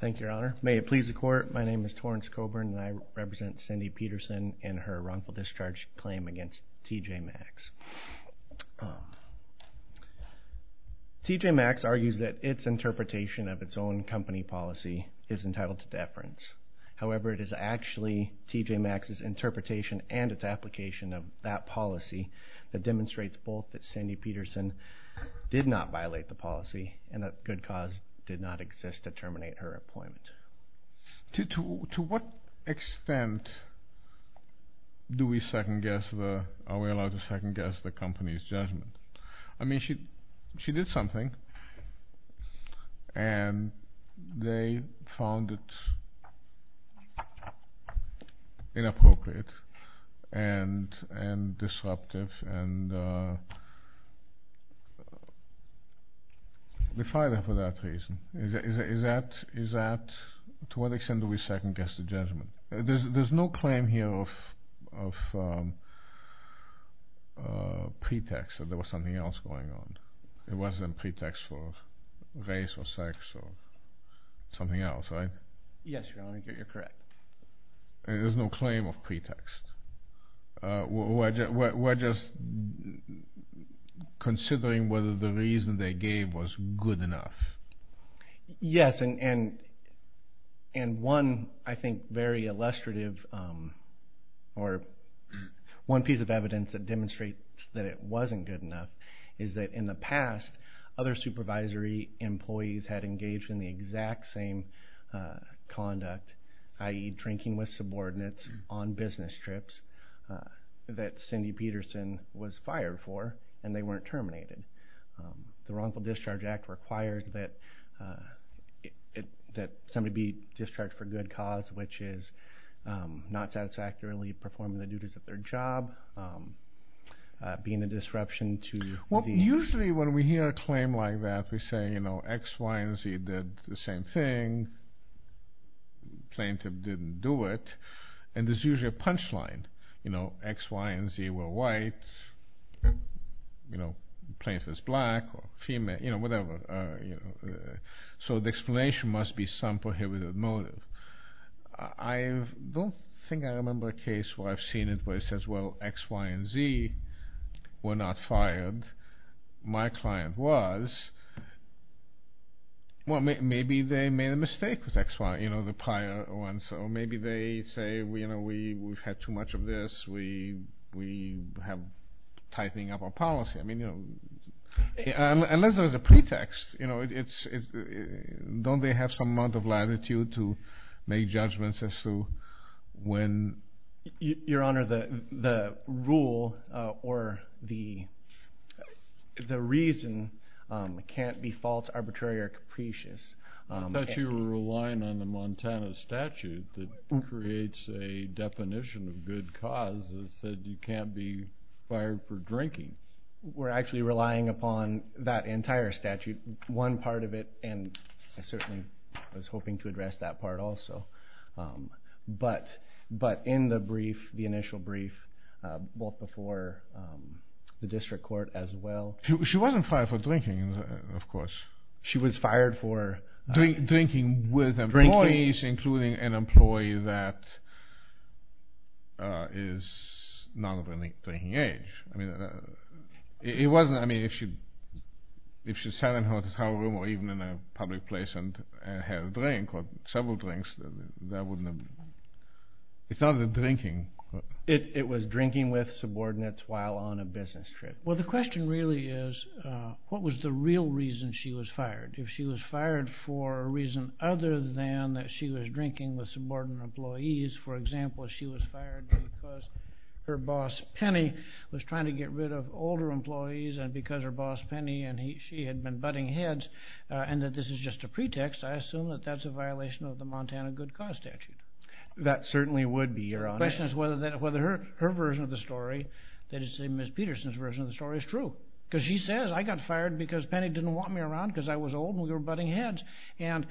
Thank you, your honor. May it please the court, my name is Torrence Coburn and I represent Cindy Pedersen in her wrongful discharge claim against TJ Maxx. TJ Maxx argues that its interpretation of its own company policy is entitled to deference. However, it is actually TJ Maxx's interpretation and its application of that policy that demonstrates both that Cindy Pedersen did not violate the policy and that good cause did not exist to terminate her appointment. To what extent do we second guess, are we allowed to second guess the company's judgment? I mean, she did something and they found it inappropriate and disruptive and defied her for that reason. To what extent do we second guess the judgment? There's no claim here of pretext that there was something else going on. It wasn't pretext for race or sex or something else, right? Yes, your honor, you're correct. There's no claim of pretext. We're just considering whether the reason they gave was good enough. Yes, and one, I think, very illustrative or one piece of evidence that demonstrates that it wasn't good enough is that in the past, other supervisory employees had engaged in the exact same conduct, i.e. drinking with subordinates on business trips that Cindy Pedersen was fired for, and they weren't terminated. The Wrongful Discharge Act requires that somebody be discharged for good cause, which is not satisfactorily performing the duties of their job, being a disruption to the... Well, usually when we hear a claim like that, we say X, Y, and Z did the same thing. Plaintiff didn't do it. And there's usually a punchline, X, Y, and Z were white. Plaintiff is black or female, whatever. So the explanation must be some prohibited motive. I don't think I remember a case where I've seen it where it says, well, X, Y, and Z were not white. Well, maybe they made a mistake with X, Y, the prior one. So maybe they say, we've had too much of this, we have tightening up our policy. Unless there's a pretext, don't they have some amount of latitude to make judgments as to when... Your Honor, the rule or the reason can't be false, arbitrary, or capricious. I thought you were relying on the Montana statute that creates a definition of good cause that said you can't be fired for drinking. We're actually relying upon that entire statute, one part of it, and I certainly was hoping to address that part also. But in the brief, the initial brief, both before the district court as well... She wasn't fired for drinking, of course. She was fired for... Drinking with employees, including an employee that is not of any drinking age. It wasn't... If she sat in her hotel room or even in a public place and had a drink or several drinks, that wouldn't have... It's not a drinking. It was drinking with subordinates while on a business trip. Well, the question really is, what was the real reason she was fired? If she was fired for a reason other than that she was drinking with subordinate employees, for example, if she was fired because her boss, Penny, was trying to get rid of older employees and because her boss, Penny, and she had been butting heads and that this is just a pretext, I assume that that's a violation of the Montana Good Cause Statute. That certainly would be, Your Honor. The question is whether her version of the story, that is to say Ms. Peterson's version of the story, is true. Because she says, I got fired because Penny didn't want me around because I was old and we were butting heads. And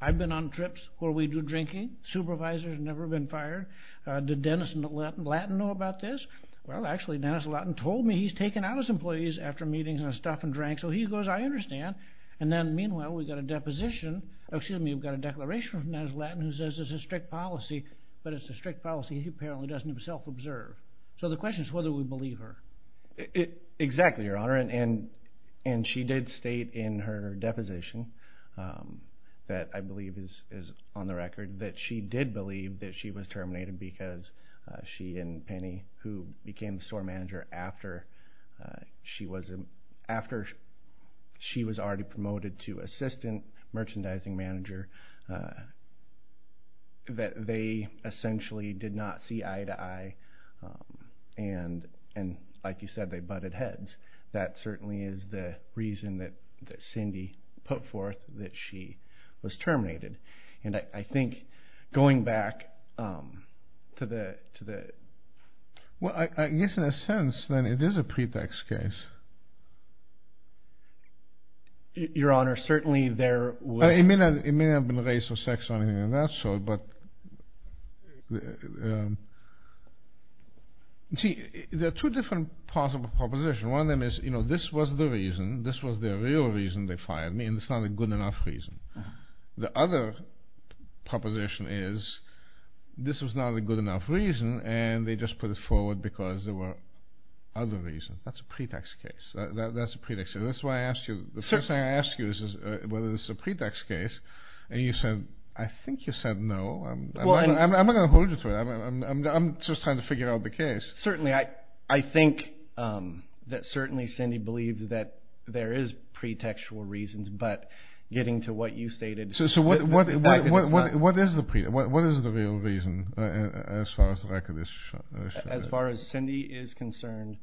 I've been on trips where we do drinking. Supervisors have never been fired. Did Dennis Lattin know about this? Well, actually, Dennis Lattin told me he's taken out his employees after meetings and stuff and drank. So he goes, I understand. And then meanwhile, we got a deposition... Excuse me, we've got a declaration from Dennis Lattin who says it's a strict policy, but it's a strict policy he apparently doesn't himself observe. So the question is whether we believe her. Exactly, Your Honor. And she did state in her deposition that, I believe is on the record, that she did believe that she was terminated because she and Penny, who became the store manager after she was already promoted to assistant merchandising manager, that they essentially did not see eye to eye. And like you said, they butted heads. That certainly is the reason that Cindy put forth that she was terminated. And I think going back to the... Well, I guess in a sense, then, it is a pretext case. Your Honor, certainly there was... It may not have been race or sex or anything of that sort, but... See, there are two different possible propositions. One of them is, this was the reason, this was the real reason they fired me, and it's not a good enough reason. The other proposition is, this was not a good enough reason, and they just put it forward because there were other reasons. That's a pretext case. That's a pretext case. That's why I asked you... The first thing I asked you is whether this is a pretext case, and you said, I think you said no. I'm not gonna hold you to it. I'm just trying to figure out the case. Certainly, I think that certainly Cindy believed that there is pretextual reasons, but getting to what you stated... So what is the real reason, as far as the record is showing? As far as Cindy is concerned,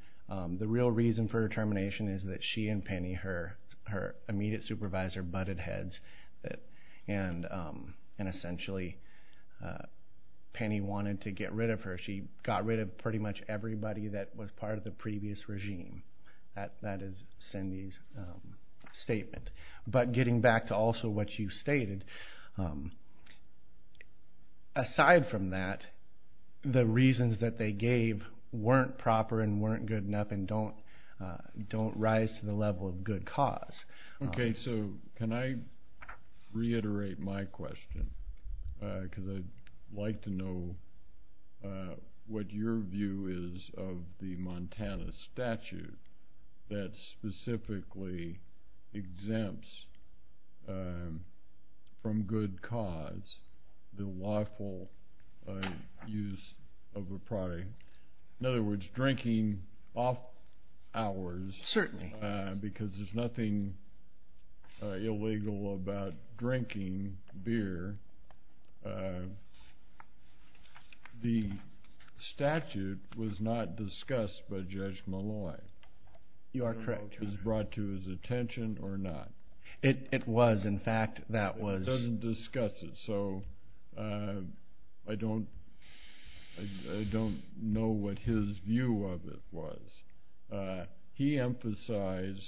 the real reason for her termination is that she and Penny, her immediate supervisor, butted heads, and essentially, Penny wanted to get rid of her. She got rid of pretty much everybody that was part of the previous regime. That is Cindy's statement. But getting back to also what you stated, aside from that, the reasons that they gave weren't proper and weren't good enough and don't rise to the level of good cause. Okay, so can I reiterate my question? Because I'd like to know what your view is of the Montana statute that specifically exempts from good cause the lawful use of a product. In other words, drinking off hours... Certainly. Because there's nothing illegal about drinking beer. The statute was not discussed by Judge Malloy. You are correct. I don't know if it was brought to his attention or not. It was. In fact, that was... It doesn't discuss it, so I don't know what his view of it was. He emphasized,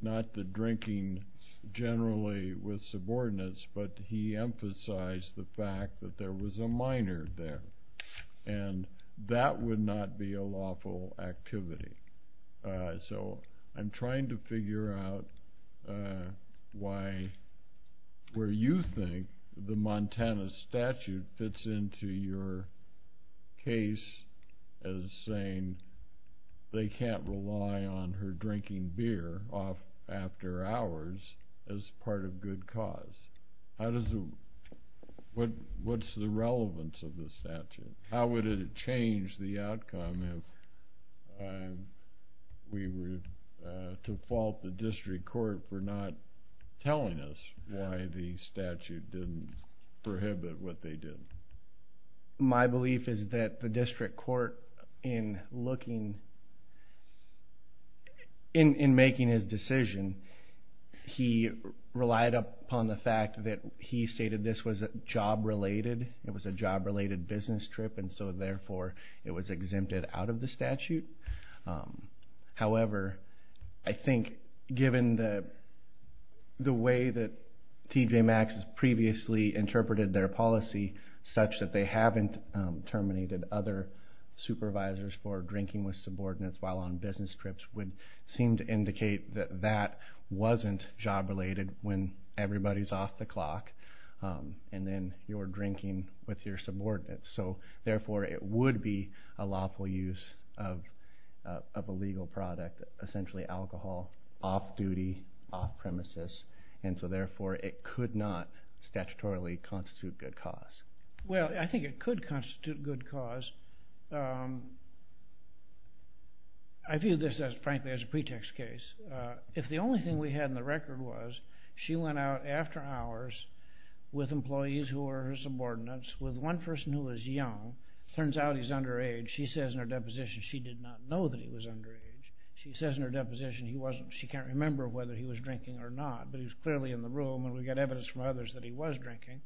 not the drinking generally with subordinates, but he emphasized the fact that there was a minor there, and that would not be a lawful activity. So I'm trying to figure out why, where you think the Montana statute fits into your case as saying they can't rely on her drinking beer after hours as part of good cause. What's the relevance of the statute? How would it change the outcome if we were to fault the district court for not telling us why the statute didn't prohibit what they did? My belief is that the district court, in looking... In making his decision, he relied upon the fact that he stated this was job related. It was a job related business trip, and so therefore it was exempted out of the statute. However, I think given the way that TJ Maxx has previously interpreted their policy such that they haven't terminated other supervisors for drinking with subordinates while on business trips would seem to indicate that that wasn't job related when everybody's off the clock, and then you're drinking with your subordinates. So therefore, it would be a lawful use of a legal product, essentially alcohol, off duty, off premises, and so therefore it could not statutorily constitute good cause. Well, I think it could constitute good cause. I view this as, frankly, as a pretext case. If the only thing we had in the record was she went out after hours with employees who were her subordinates, with one person who was young, turns out he's underage, she says in her deposition she did not know that he was underage. She says in her deposition she can't remember whether he was drinking or not, but he was clearly in the room and we got evidence from others that he was drinking.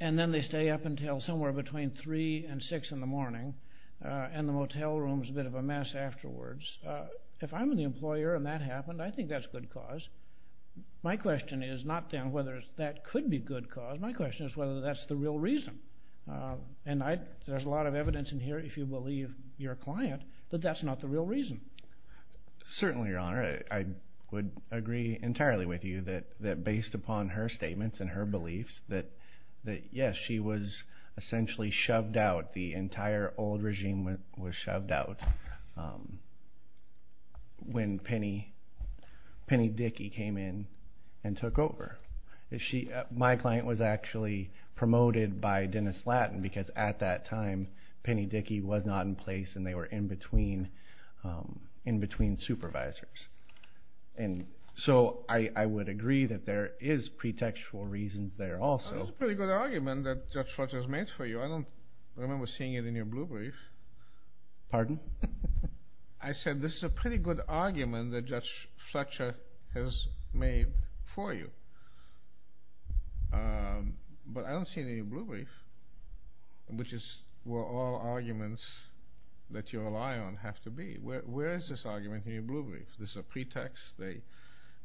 And then they stay up until somewhere between three and six in the morning, and the motel room's a bit of a mess afterwards. If I'm the employer and that happened, I think that's good cause. My question is not then whether that could be good cause, my question is whether that's the real reason. And there's a lot of evidence in here, if you believe your client, that that's not the real reason. Certainly, Your Honor, I would agree entirely with you that based upon her statements and her beliefs, that yes, she was essentially shoved out, the entire old regime was shoved out when Penny Dickey came in and took over. My client was actually promoted by Dennis Lattin, because at that time, Penny Dickey was not in place and they were in between supervisors. And so I would agree that there is pretextual reasons there also. That's a pretty good argument that Judge Fletcher has made for you. I don't remember seeing it in your blue brief. Pardon? I said this is a pretty good argument that Judge Fletcher has made for you, but I don't see it in your blue brief, which is where all arguments that you rely on have to be. Where is this argument in your blue brief? This is a pretext, they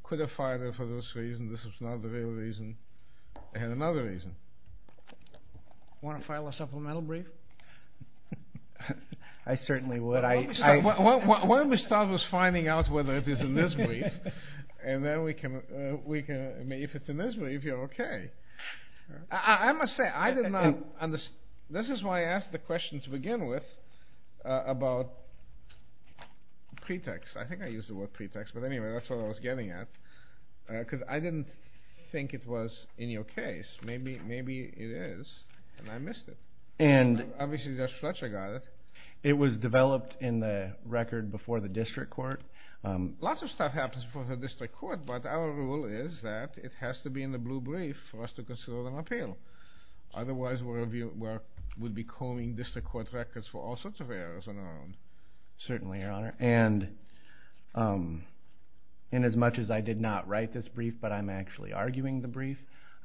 could have filed it for this reason, this is not the real reason, and another reason. Want to file a supplemental brief? I certainly would. Why don't we start with finding out whether it is in this brief, and then we can, if it's in this brief, you're okay. I must say, I did not understand, this is why I asked the question to begin with about pretext. I think I used the word pretext, but anyway, that's what I was getting at, because I didn't think it was in your case. Maybe it is, and I missed it. And it was developed in the record before the district court. Lots of stuff happens before the district court, but our rule is that it has to be in the blue brief for us to consider an appeal. Otherwise, we would be calling district court records for all sorts of errors on our own. Certainly, Your Honor, and as much as I did not write this brief, but I'm actually arguing the brief,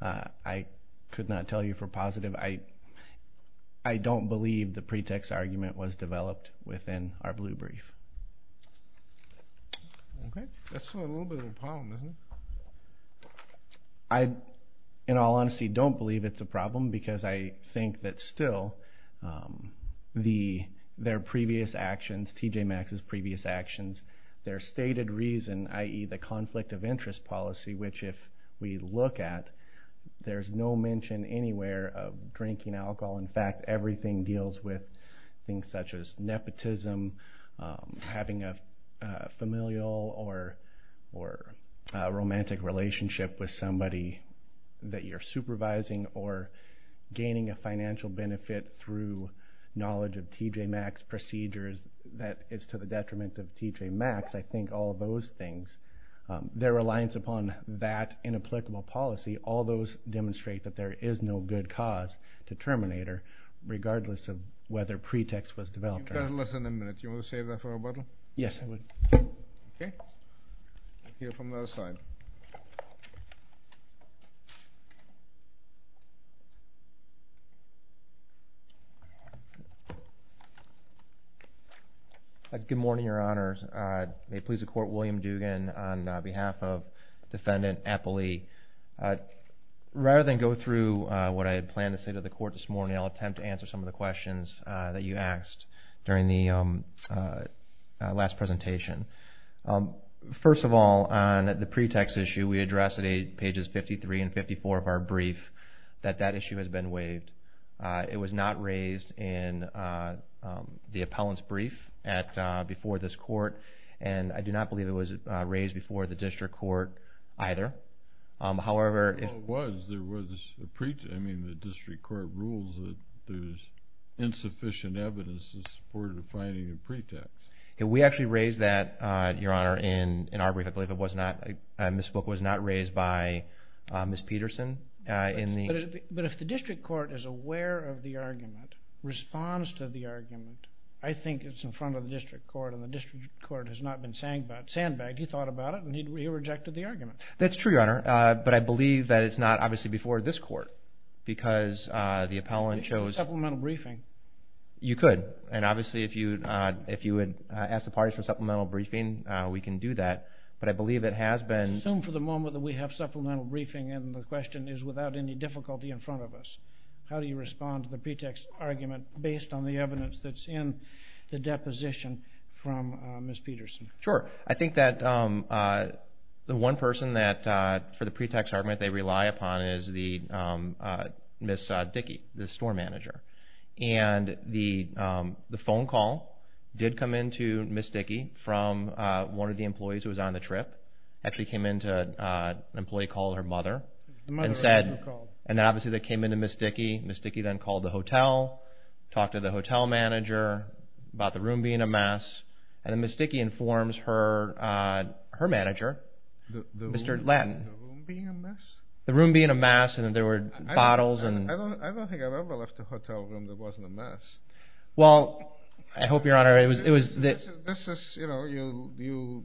I could not tell you for positive, I don't believe the pretext argument was developed within our district court. Okay. That's a little bit of a problem, isn't it? I, in all honesty, don't believe it's a problem, because I think that still, their previous actions, TJ Maxx's previous actions, their stated reason, i.e. the conflict of interest policy, which if we look at, there's no mention anywhere of drinking alcohol. In fact, everything deals with things such as nepotism, having a familial or romantic relationship with somebody that you're supervising, or gaining a financial benefit through knowledge of TJ Maxx procedures that is to the detriment of TJ Maxx. I think all of those things, their reliance upon that inapplicable policy, all those demonstrate that there is no good cause to Terminator, regardless of whether pretext was developed or not. You've got less than a minute. Do you want to save that for a bottle? Yes, I would. Okay. We'll hear from the other side. Good morning, your honors. May it please the court, William Dugan on behalf of Defendant Appley. Rather than go through what I had planned to say to the questions that you asked during the last presentation, first of all, on the pretext issue, we addressed at pages 53 and 54 of our brief that that issue has been waived. It was not raised in the appellant's brief before this court, and I do not believe it was raised before the district court either. However, if... Well, it was. There was a pre... I mean, the district court rules that there's insufficient evidence in support of defining a pretext. We actually raised that, your honor, in our brief. I believe it was not... This book was not raised by Ms. Peterson in the... But if the district court is aware of the argument, responds to the argument, I think it's in front of the district court, and the district court has not been saying about sandbag. He thought about it, and he rejected the argument. That's true, your honor, but I believe that it's not, obviously, before this court, because the appellant chose... Supplemental briefing. You could, and obviously, if you would ask the parties for supplemental briefing, we can do that, but I believe it has been... Assume for the moment that we have supplemental briefing, and the question is without any difficulty in front of us. How do you respond to the pretext argument based on the evidence that's in the deposition from Ms. Peterson? Sure. I think that the one person that, for the pretext argument they rely upon is the... Ms. Dickey, the store manager. And the phone call did come in to Ms. Dickey from one of the employees who was on the trip, actually came in to an employee called her mother, and said... And obviously, they came in to Ms. Dickey. Ms. Dickey then called the hotel, talked to the hotel manager about the room being a mess, and then Ms. Dickey informs her manager, Mr. Lattin. The room being a mess? The room being a mess, and there were bottles and... I don't think I've ever left a hotel room that wasn't a mess. Well, I hope your honor, it was... This is... You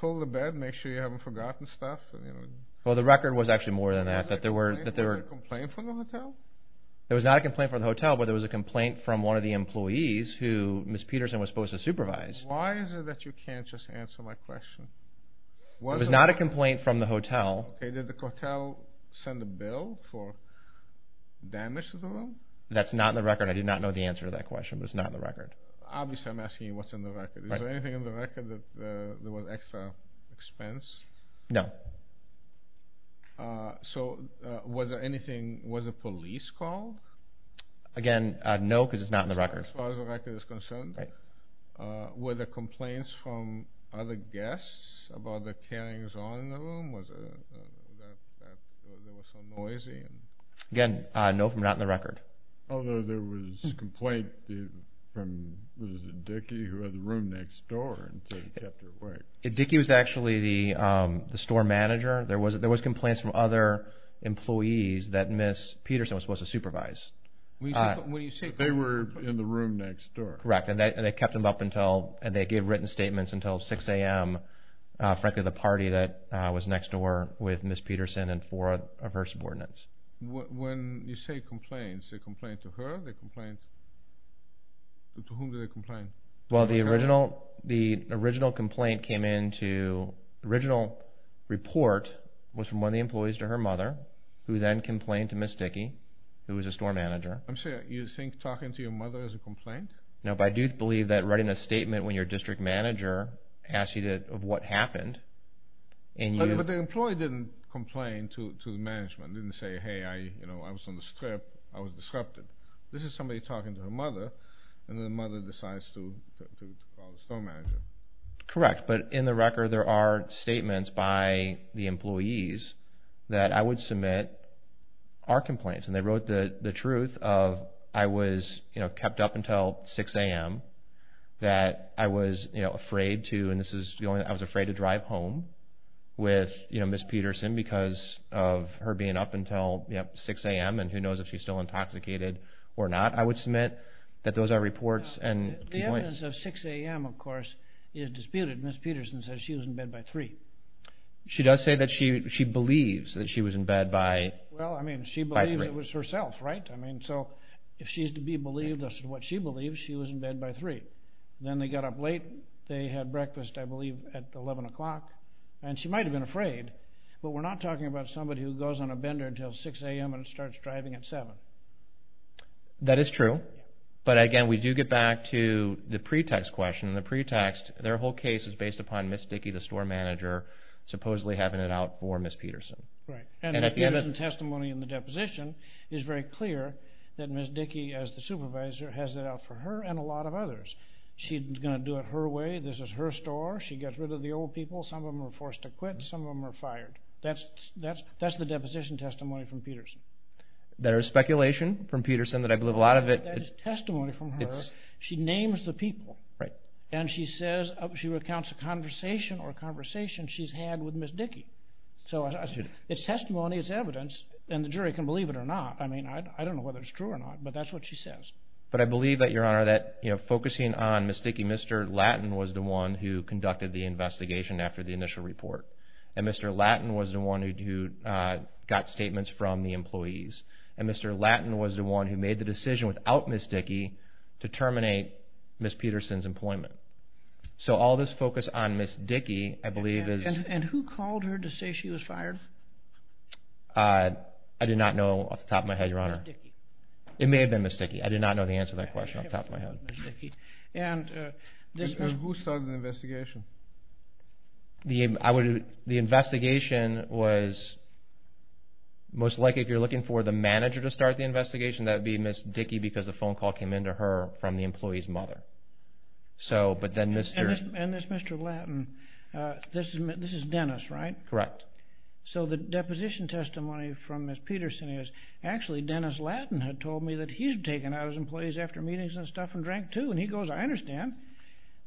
pull the bed, make sure you haven't forgotten stuff. Well, the record was actually more than that, that there were... Was there a complaint from the hotel? There was not a complaint from the hotel, but there was a complaint from one of the employees who Ms. Peterson was supposed to supervise. Why is it that you can't just answer my question? It was not a complaint from the hotel. Okay, did the hotel send a bill for damage to the room? That's not in the record. I do not know the answer to that question, but it's not in the record. Obviously, I'm asking you what's in the record. Is there anything in the record that there was extra expense? No. So was there anything... Was a police call? Again, no, because it's not in the record. As far as the record is concerned, were there complaints from other guests about the carrying the zone in the room? Was it... Was it so noisy? Again, no, from not in the record. Although there was a complaint from... Was it Dickie who had the room next door and said he kept it away? Dickie was actually the store manager. There was complaints from other employees that Ms. Peterson was supposed to supervise. When you say... They were in the room next door. Correct, and they kept them up until... And they gave written statements until 6 AM, frankly, the party that was next door with Ms. Peterson and four of her subordinates. When you say complaints, they complained to her? They complained... To whom did they complain? Well, the original... The original complaint came in to... The original report was from one of the employees to her mother, who then complained to Ms. Dickie, who was the store manager. I'm sorry, you think talking to your mother is a complaint? No, but I do believe that writing a statement when your district manager asks you to... Of what happened, and you... But the employee didn't complain to the management, didn't say, hey, I was on the strip, I was disrupted. This is somebody talking to her mother, and the mother decides to call the store manager. Correct, but in the record, there are statements by the employees that I would submit. The truth of, I was kept up until 6 AM, that I was afraid to, and this is the only... I was afraid to drive home with Ms. Peterson because of her being up until 6 AM, and who knows if she's still intoxicated or not. I would submit that those are reports and complaints. The evidence of 6 AM, of course, is disputed. Ms. Peterson says she was in bed by 3. She does say that she believes that she was in bed by... Well, I mean, she believes it was herself, right? I mean, so if she's to be believed as to what she believes, she was in bed by 3. Then they got up late, they had breakfast, I believe, at 11 o'clock, and she might have been afraid, but we're not talking about somebody who goes on a bender until 6 AM and starts driving at 7. That is true, but again, we do get back to the pretext question. The pretext, their whole case is based upon Ms. Dickey, the store manager, supposedly having it out for Ms. Peterson. The testimony in the deposition is very clear that Ms. Dickey, as the supervisor, has it out for her and a lot of others. She's gonna do it her way. This is her store. She gets rid of the old people. Some of them are forced to quit. Some of them are fired. That's the deposition testimony from Peterson. There is speculation from Peterson that I believe a lot of it... That is testimony from her. She names the people. Right. And she says, she recounts a conversation or a conversation she's had with Ms. Dickey. So it's testimony, it's evidence, and the jury can believe it or not. I don't know whether it's true or not, but that's what she says. But I believe that, Your Honor, that focusing on Ms. Dickey, Mr. Lattin was the one who conducted the investigation after the initial report, and Mr. Lattin was the one who got statements from the employees, and Mr. Lattin was the one who made the decision without Ms. Dickey to terminate Ms. Peterson's employment. So all this focus on Ms. Dickey, I believe is... And who called her to say she was fired? I do not know off the top of my head, Your Honor. Ms. Dickey. It may have been Ms. Dickey. I do not know the answer to that question off the top of my head. Ms. Dickey. And who started the investigation? The investigation was... Most likely, if you're looking for the manager to start the investigation, that would be Ms. Dickey because the phone call came in to her from the employee's mother. But then Mr... And this Mr. Lattin, this is Dennis, right? Correct. So the deposition testimony from Ms. Peterson is, actually Dennis Lattin had told me that he's taken out his employees after meetings and stuff and drank too. And he goes, I understand.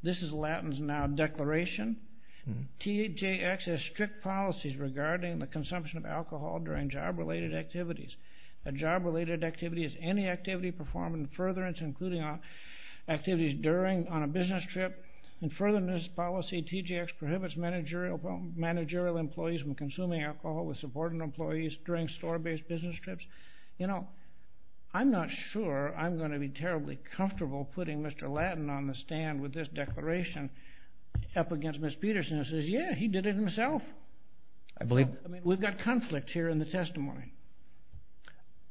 This is Lattin's now declaration. THJX has strict policies regarding the consumption of alcohol during job related activities. A job related activity is any activity performed in furtherance, including activities during, on a business trip. In furtherance policy, THJX prohibits managerial employees from consuming alcohol with supporting employees during store based business trips. I'm not sure I'm gonna be terribly comfortable putting Mr. Lattin on the stand with this declaration up against Ms. Peterson who says, yeah, he did it himself. I believe... We've got conflict here in the testimony.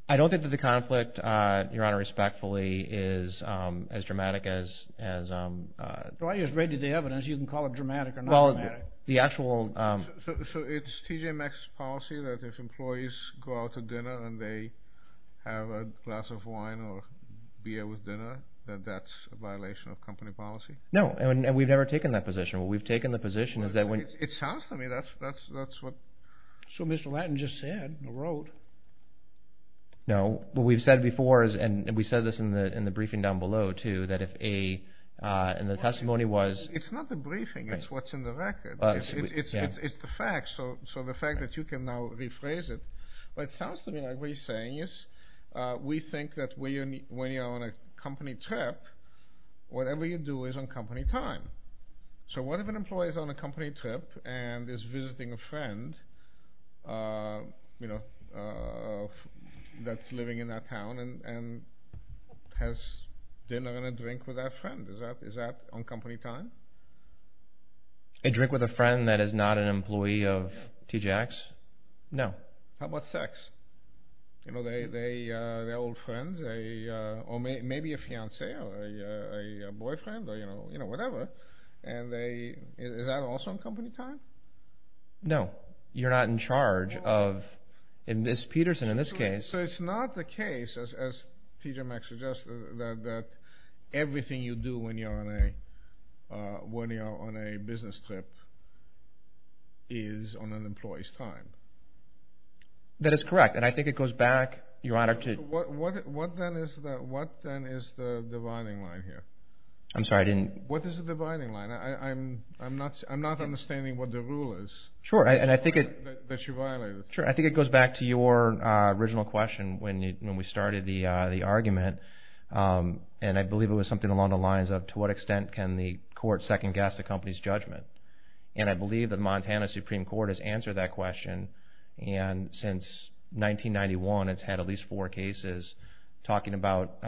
I don't think that the conflict, Your Honor, respectfully is as dramatic as... Well, I just read you the evidence. You can call it dramatic or not dramatic. Well, the actual... So it's THJX policy that if employees go out to dinner and they have a glass of wine or beer with dinner, that that's a violation of company policy? No, and we've never taken that position. What we've taken the position is that when... It sounds to me that's what... So Mr. Lattin just said, wrote, wrote? No, what we've said before is, and we said this in the briefing down below too, that if a... And the testimony was... It's not the briefing, it's what's in the record. It's the fact, so the fact that you can now rephrase it, but it sounds to me like what he's saying is, we think that when you're on a company trip, whatever you do is on company time. So what if an employee is on a company trip and is visiting a friend that's living in that town and has dinner and a drink with that friend? Is that on company time? A drink with a friend that is not an employee of TJX? No. How about sex? They're old friends or maybe a fiance or a boyfriend or whatever, and they... Is that also on company time? No, you're not in charge of... In this Peterson, in this case... So it's not the case, as TJ Maxx suggested, that everything you do when you're on a business trip is on an employee's time? That is correct, and I think it goes back, Your Honor, to... What then is the dividing line here? I'm sorry, I didn't... What is the dividing line? I'm not understanding what the rule is that you violated. Sure, and I think it goes back to your original question when we started the argument, and I believe it was something along the lines of, to what extent can the court second guess the company's judgment? And I believe the Montana Supreme Court has answered that question, and since 1991, it's had at least two cases talking about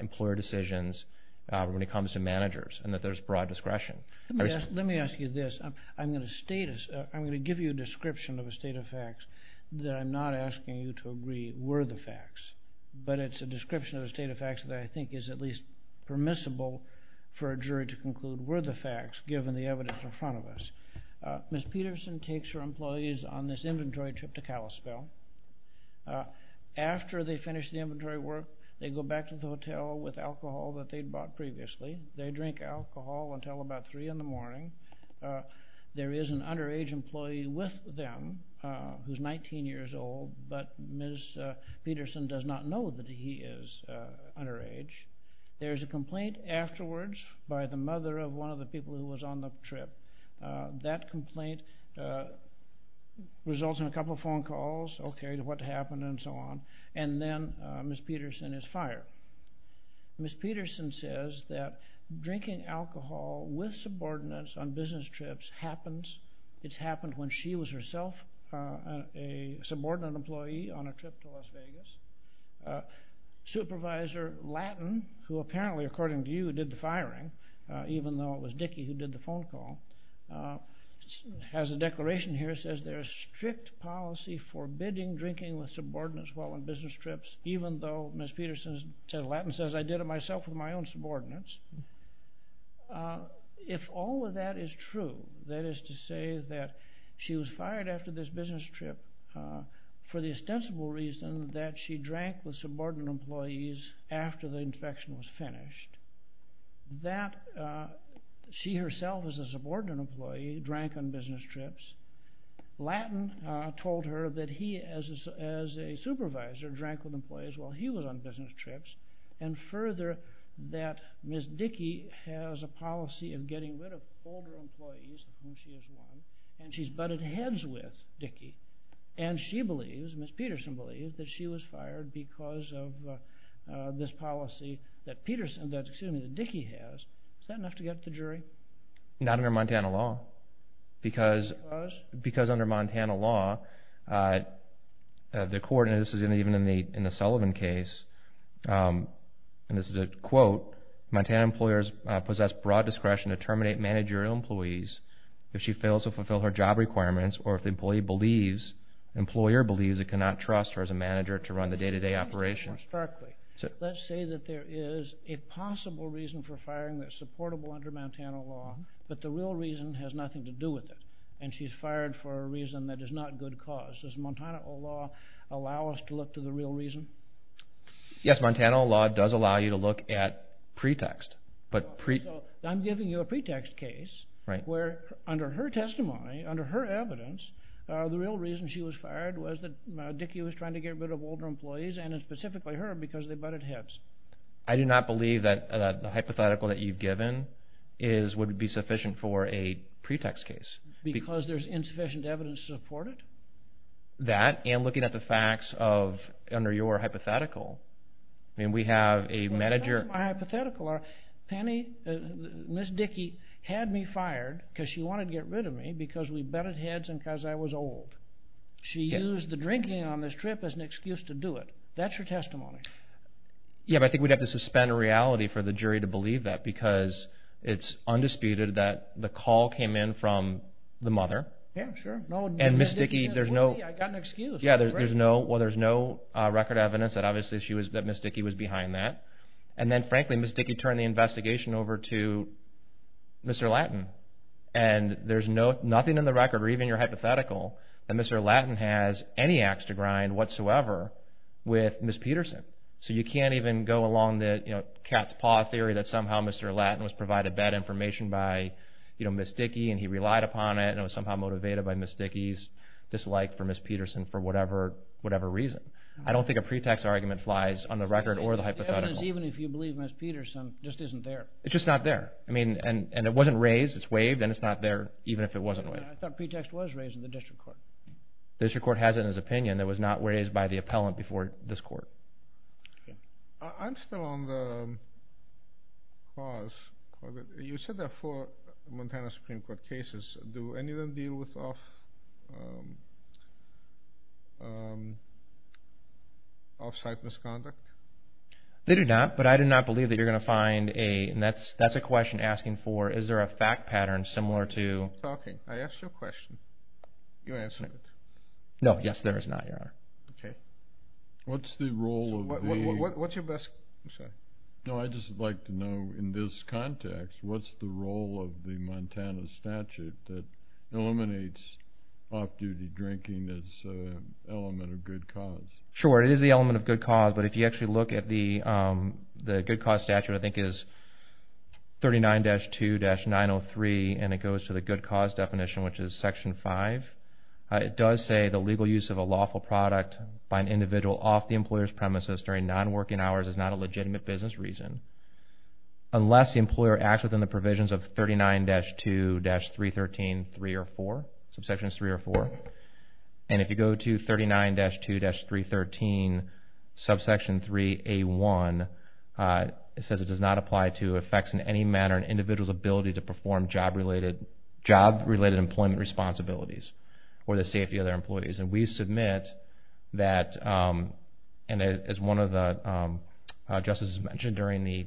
employer decisions when it comes to managers and that there's broad discretion. Let me ask you this. I'm gonna give you a description of a state of facts that I'm not asking you to agree were the facts, but it's a description of a state of facts that I think is at least permissible for a jury to conclude were the facts, given the evidence in front of us. Ms. Peterson takes her employees on this inventory trip to Kalispell. After they finish the inventory work, they go back to the hotel with alcohol that they'd bought previously. They drink alcohol until about three in the morning. There is an underage employee with them who's 19 years old, but Ms. Peterson does not know that he is underage. There's a complaint afterwards by the mother of one of the people who was on the trip. That complaint results in a what happened and so on, and then Ms. Peterson is fired. Ms. Peterson says that drinking alcohol with subordinates on business trips happens. It's happened when she was herself a subordinate employee on a trip to Las Vegas. Supervisor Lattin, who apparently, according to you, did the firing, even though it was Dickey who did the phone call, has a declaration here that says there's strict policy forbidding drinking with subordinates while on business trips, even though Ms. Peterson said, Lattin says, I did it myself with my own subordinates. If all of that is true, that is to say that she was fired after this business trip for the ostensible reason that she drank with subordinate employees after the inspection was finished, that she herself as a subordinate employee drank on business trips, told her that he as a supervisor drank with employees while he was on business trips, and further that Ms. Dickey has a policy of getting rid of older employees, and she's butted heads with Dickey, and she believes, Ms. Peterson believes, that she was fired because of this policy that Dickey has. Is that enough to get the jury? Not under Montana law, because under Montana law, the court, and this is even in the Sullivan case, and this is a quote, Montana employers possess broad discretion to terminate managerial employees if she fails to fulfill her job requirements, or if the employee believes, employer believes, it cannot trust her as a manager to run the day-to-day operation. Let's say that there is a possible reason for firing that's reportable under Montana law, but the real reason has nothing to do with it, and she's fired for a reason that is not good cause. Does Montana law allow us to look to the real reason? Yes, Montana law does allow you to look at pretext, but I'm giving you a pretext case, where under her testimony, under her evidence, the real reason she was fired was that Dickey was trying to get rid of older employees, and specifically her, because they butted heads. I do not believe that the hypothetical that you've given is, would be sufficient for a pretext case. Because there's insufficient evidence to support it? That, and looking at the facts of, under your hypothetical, I mean we have a manager. My hypothetical, Ms. Dickey had me fired because she wanted to get rid of me because we butted heads and because I was old. She used the drinking on this trip as an excuse to do it. That's her testimony. Yeah, but I think we'd have to suspend reality for the jury to believe that, because it's undisputed that the call came in from the mother. Yeah, sure. And Ms. Dickey, there's no, I got an excuse. Yeah, there's no, well there's no record evidence that obviously she was, that Ms. Dickey was behind that. And then frankly, Ms. Dickey turned the investigation over to Mr. Lattin, and there's no, nothing in the record, or even your hypothetical, that Mr. Lattin has any ax to grind whatsoever with Ms. Peterson. So you can't even go along the, you know, cat's paw theory that somehow Mr. Lattin was provided bad information by, you know, Ms. Dickey, and he relied upon it, and it was somehow motivated by Ms. Dickey's dislike for Ms. Peterson for whatever, whatever reason. I don't think a pretext argument flies on the record or the hypothetical. Even if you believe Ms. Peterson, just isn't there. It's just not there. I mean, and it wasn't raised, it's waived, and it's not there, even if it wasn't waived. I thought pretext was raised in the district court. The district court has it in his opinion that was not raised by the appellant before this court. I'm still on the cause. You said there are four Montana Supreme Court cases. Do any of them deal with off-site misconduct? They do not, but I do not believe that you're going to find a, and that's, that's a question asking for, is there a fact pattern similar to... I asked you a question. You answered it. No, yes, there is not, Your Honor. Okay. What's the role of the... What's your best... I'm sorry. No, I'd just like to know, in this context, what's the role of the Montana statute that eliminates off-duty drinking as an element of good cause? Sure, it is the element of good cause, but if you actually look at the, good cause statute, I think is 39-2-903, and it goes to the good cause definition, which is section five. It does say the legal use of a lawful product by an individual off the employer's premises during non-working hours is not a legitimate business reason, unless the employer acts within the provisions of 39-2-313, three or four, subsection three or four. And if you go to 39-2-313, subsection three A1, it says it does not apply to effects in any manner on an individual's ability to perform job related, job related employment responsibilities, or the safety of their employees. And we submit that, and as one of the justices mentioned during the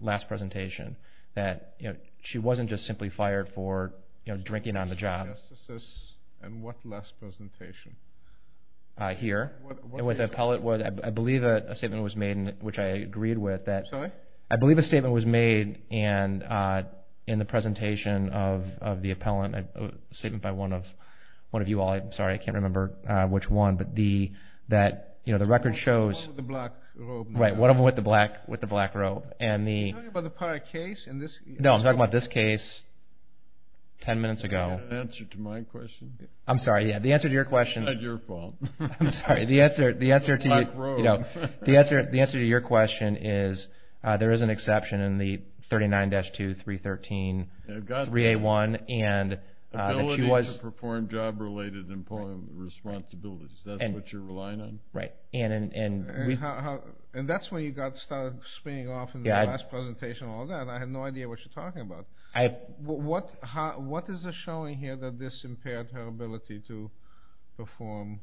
last presentation, that she wasn't just simply fired for drinking on the job. Justices, and what last presentation? Here, and with the appellate was, I believe a statement was made, which I agreed with, that... I'm sorry? I believe a statement was made in the presentation of the appellant, a statement by one of you all. I'm sorry, I can't remember which one, but the, that the record shows... One with the black robe. Right, one with the black robe, and the... Are you talking about the prior case? No, I'm talking about this case, 10 minutes ago. The answer to my question? I'm sorry, yeah, the answer to your question... It's not your fault. I'm sorry, the answer, the answer to... The black robe. The answer, the answer to your question is, there is an exception in the 39-2-313-3A1, and that she was... Ability to perform job related employment responsibilities, that's what you're relying on? Right, and... And that's when you got started spinning off in the last presentation and all that, and I had no idea what you're talking about. What is it showing here that this impaired her ability to perform...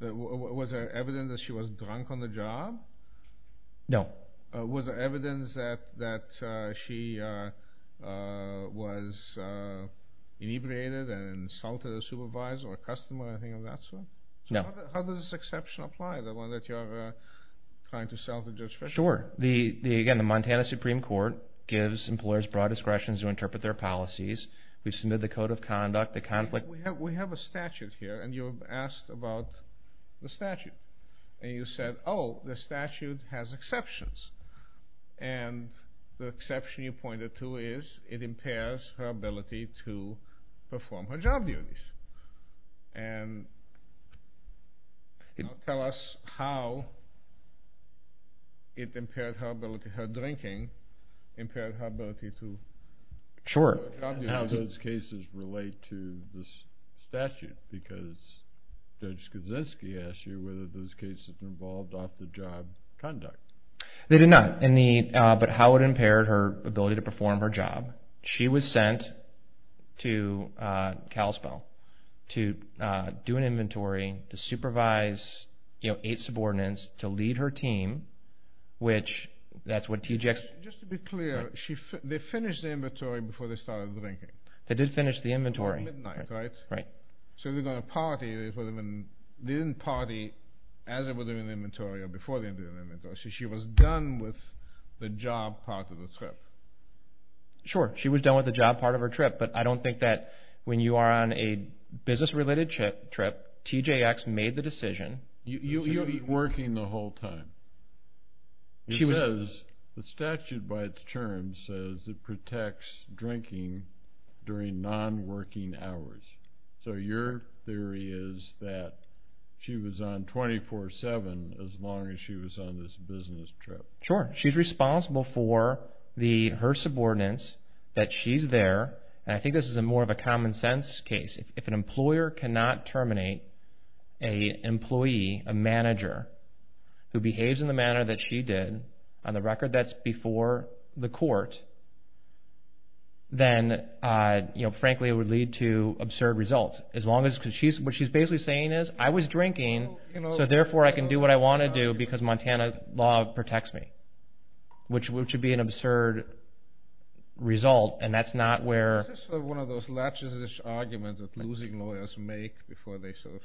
Was there evidence that she was drunk on the job? No. Was there evidence that she was inebriated and insulted a supervisor or a customer, anything of that sort? No. How does this exception apply, the one that you're trying to explain? The Indiana Supreme Court gives employers broad discretion to interpret their policies, we've submitted the Code of Conduct, the conflict... We have a statute here, and you've asked about the statute, and you said, oh, the statute has exceptions. And the exception you pointed to is, it impairs her ability to perform her job duties. And tell us how it impaired her ability... Her drinking impaired her ability to... Sure. How do those cases relate to this statute? Because Judge Skidzynski asked you whether those cases involved off the job conduct. They did not, but how it impaired her ability to perform her job. She was sent to Kalispell to do an inventory, to supervise eight subordinates, to lead her team, which that's what TJX... Just to be clear, they finished the inventory before they started drinking. They did finish the inventory. Before midnight, right? Right. So they're gonna party, they didn't party as they were doing the inventory or before they were doing the inventory, so she was done with the job part of the trip. Sure, she was done with the job part of her trip, but I don't think that when you are on a business related trip, TJX made the decision... You're working the whole time. She was... It says, the statute by its terms says it protects drinking during non working hours. So your theory is that she was on 24 7 as long as she was on this business trip. Sure, she's responsible for her subordinates, that she's there, and I think this is more of a common sense case. If an employer cannot terminate a employee, a manager, who behaves in the manner that she did, on the record that's before the court, then frankly it would lead to absurd results. As long as... What she's basically saying is, I was drinking, so therefore I can do what I wanna do because Montana law protects me, which would be an absurd result, and that's not where... Is this one of those latches-ish arguments that losing lawyers make before they sort of...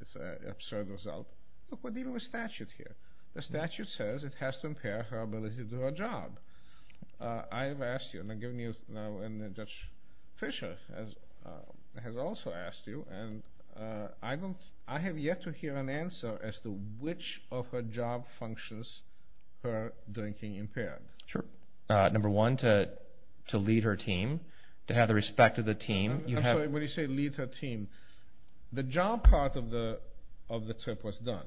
It's an absurd result. Look, we're dealing with statute here. The statute says it has to impair her ability to do her job. I have asked you, and I'm giving you now, and Judge Fisher has also asked you, and I don't... I have yet to hear an answer as to which of her job functions her drinking impaired. Sure. Number one, to lead her team, to have the respect of the team. I'm sorry, when you say lead her team, the job part of the trip was done.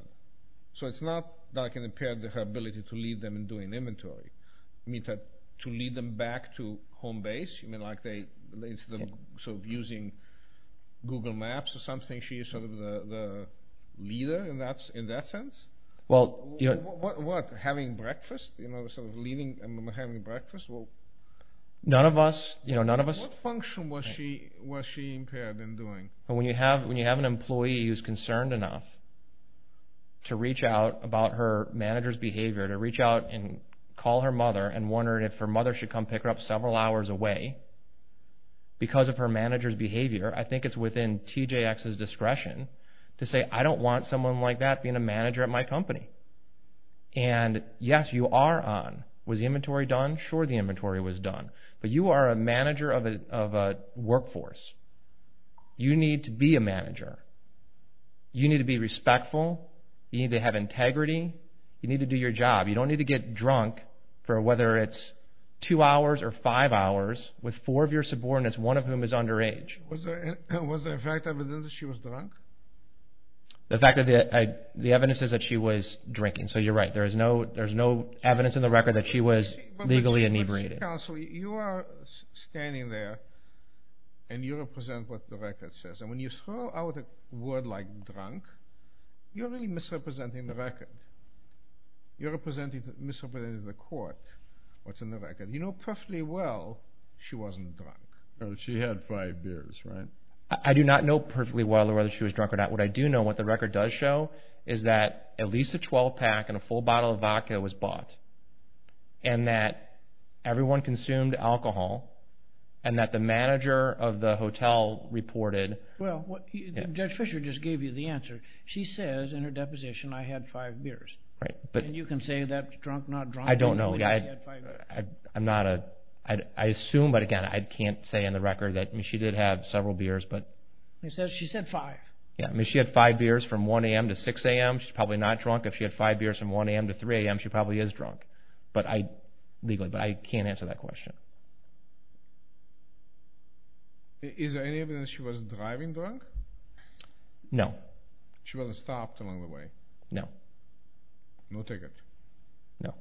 So it's not that I can impair her ability to lead them in doing inventory. You mean to lead them back to home base? You mean like they... So using Google Maps or something, she's sort of the leader in that sense? Well... What? Having breakfast? Sort of leading and having breakfast? Well... None of us... None of us... What function was she impaired in doing? When you have an employee who's concerned enough to reach out about her manager's behavior, to reach out and call her mother and wondering if her mother should come pick her up several hours away because of her manager's behavior, I think it's within TJX's discretion to say, I don't want someone like that being a manager at my job. You don't need to get drunk for whether it's two hours or five hours with four of your subordinates, one of whom is underage. Was there fact that she was drunk? The fact that... The evidence says that she was drinking. So you're right. There's no evidence in the record that she was legally inebriated. Counselor, you are standing there and you represent what the record says. And when you throw out a word like drunk, you're really misrepresenting the record. You're misrepresenting the court, what's in the record. You know perfectly well she wasn't drunk. She had five beers, right? I do not know perfectly well whether she was drunk or not. What I do know, what the record does show, is that at least a year ago, she had five beers, and that everyone consumed alcohol, and that the manager of the hotel reported... Judge Fisher just gave you the answer. She says in her deposition, I had five beers. And you can say that drunk, not drunk... I don't know. I'm not a... I assume, but again, I can't say in the record that... I mean, she did have several beers, but... She said five. Yeah. I mean, if she had five beers from 1 a.m. to 6 a.m., she's probably not drunk. If she had five beers from 1 a.m. to 3 a.m., she probably is drunk, but I... Legally, but I can't answer that question. Is there any evidence she was driving drunk? No. She wasn't stopped along the way? No. No ticket? No.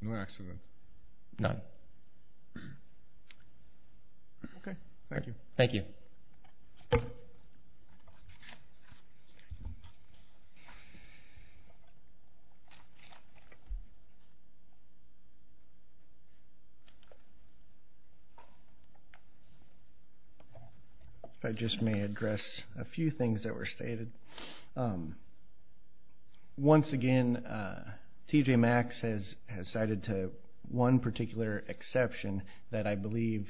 No accident? None. Okay, thank you. Thank you. If I just may address a few things that were stated. Once again, T.J. Maxx has cited to one particular exception that I believe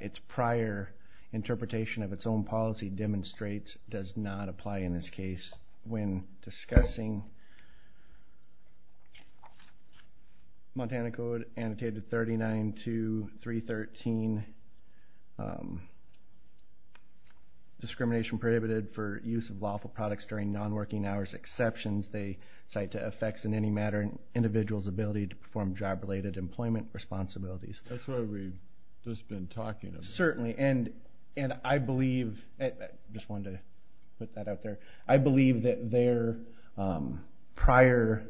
its prior interpretation of its own policy demonstrates does not apply in this case when discussing non-working hours. Montana Code, Annotated 39.2.3.13, discrimination prohibited for use of lawful products during non-working hours, exceptions they cite to affects in any matter an individual's ability to perform job-related employment responsibilities. That's what we've just been talking about. Certainly, and I believe... I just wanted to put that out there. I believe that their prior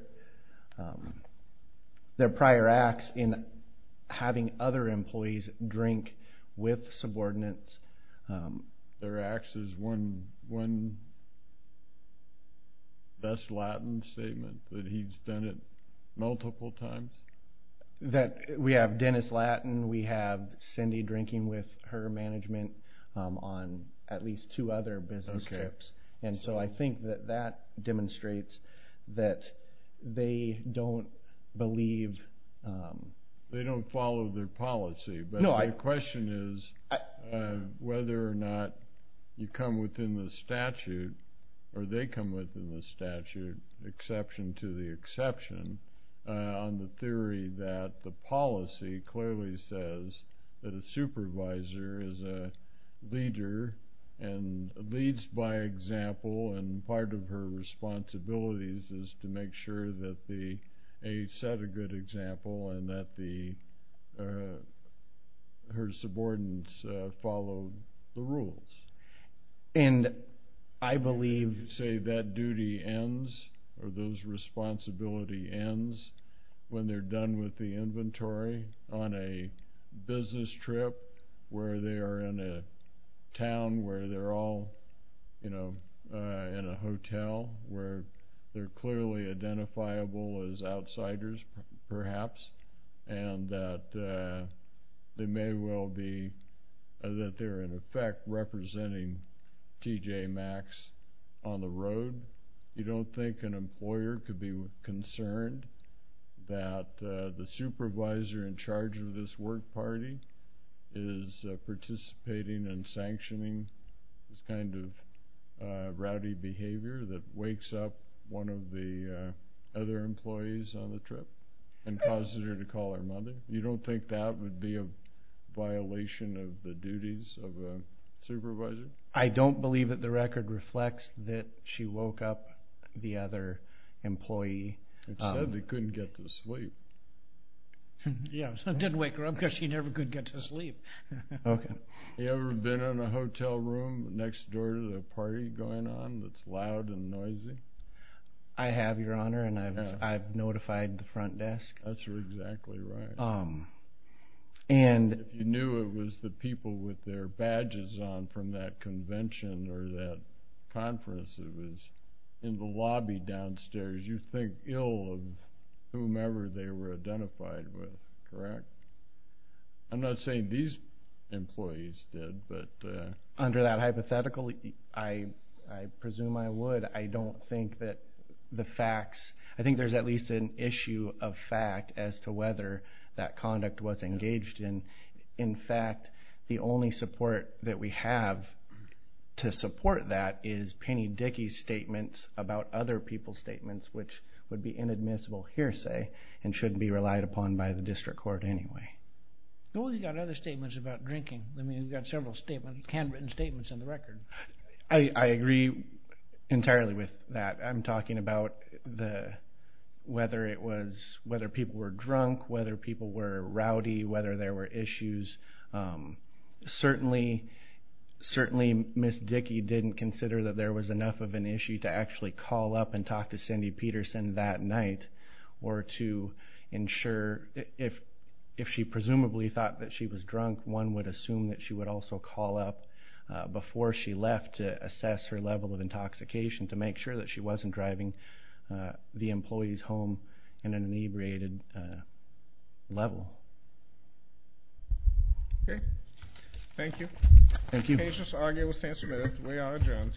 acts in having other employees drink with subordinates... Their acts is one best Latin statement that he's done it multiple times? We have Dennis Latin, we have Cindy drinking with her management on at least two other business trips. And so I think that that demonstrates that they don't believe... They don't follow their policy. But the question is whether or not you come within the statute, or they come within the statute, exception to the exception, on the theory that the policy clearly says that a person who comes in and leads by example, and part of her responsibilities is to make sure that the... A set a good example, and that her subordinates follow the rules. And I believe... And you say that duty ends, or those responsibility ends when they are done with the inventory on a business trip, where they are in a town where they're all, you know, in a hotel where they're clearly identifiable as outsiders, perhaps, and that they may well be... That they're, in effect, representing T.J. Maxx on the road. You don't think an employer could be concerned that the supervisor in charge of this work party is participating in sanctioning this kind of rowdy behavior that wakes up one of the other employees on the trip and causes her to call her mother? You don't think that would be a violation of the duties of a supervisor? I don't believe that the record reflects that she woke up the other employee. It said they couldn't get to sleep. Yeah, so it didn't wake her up because she never could get to sleep. Okay. You ever been in a hotel room next door to the party going on that's loud and noisy? I have, Your Honor, and I've notified the front desk. That's exactly right. If you knew it was the people with their badges on from that convention or that conference that was in the lobby downstairs, you think ill of whomever they were identified with, correct? I'm not saying these employees did, but... Under that hypothetical, I presume I would. I don't think that the facts... I think there's at least an issue of fact as to whether that conduct was engaged in. In fact, the only support that we have to support that is Penny Dickey's statements about other people's statements, which would be inadmissible hearsay and shouldn't be relied upon by the district court anyway. Well, you got other statements about drinking. I mean, you've got several handwritten statements in the record. I agree entirely with that. I'm talking about whether people were drunk, whether people were rowdy, whether there were issues. Certainly, Ms. Dickey didn't consider that there was enough of an issue to actually call up and talk to Cindy Peterson that night or to ensure... If she presumably thought that she was drunk, one would assume that she would also call up before she left to assess her level of intoxication to make sure that she wasn't driving the employees home in an inebriated level. Okay. Thank you. Thank you. Patients are able to stand submitted. We are adjourned.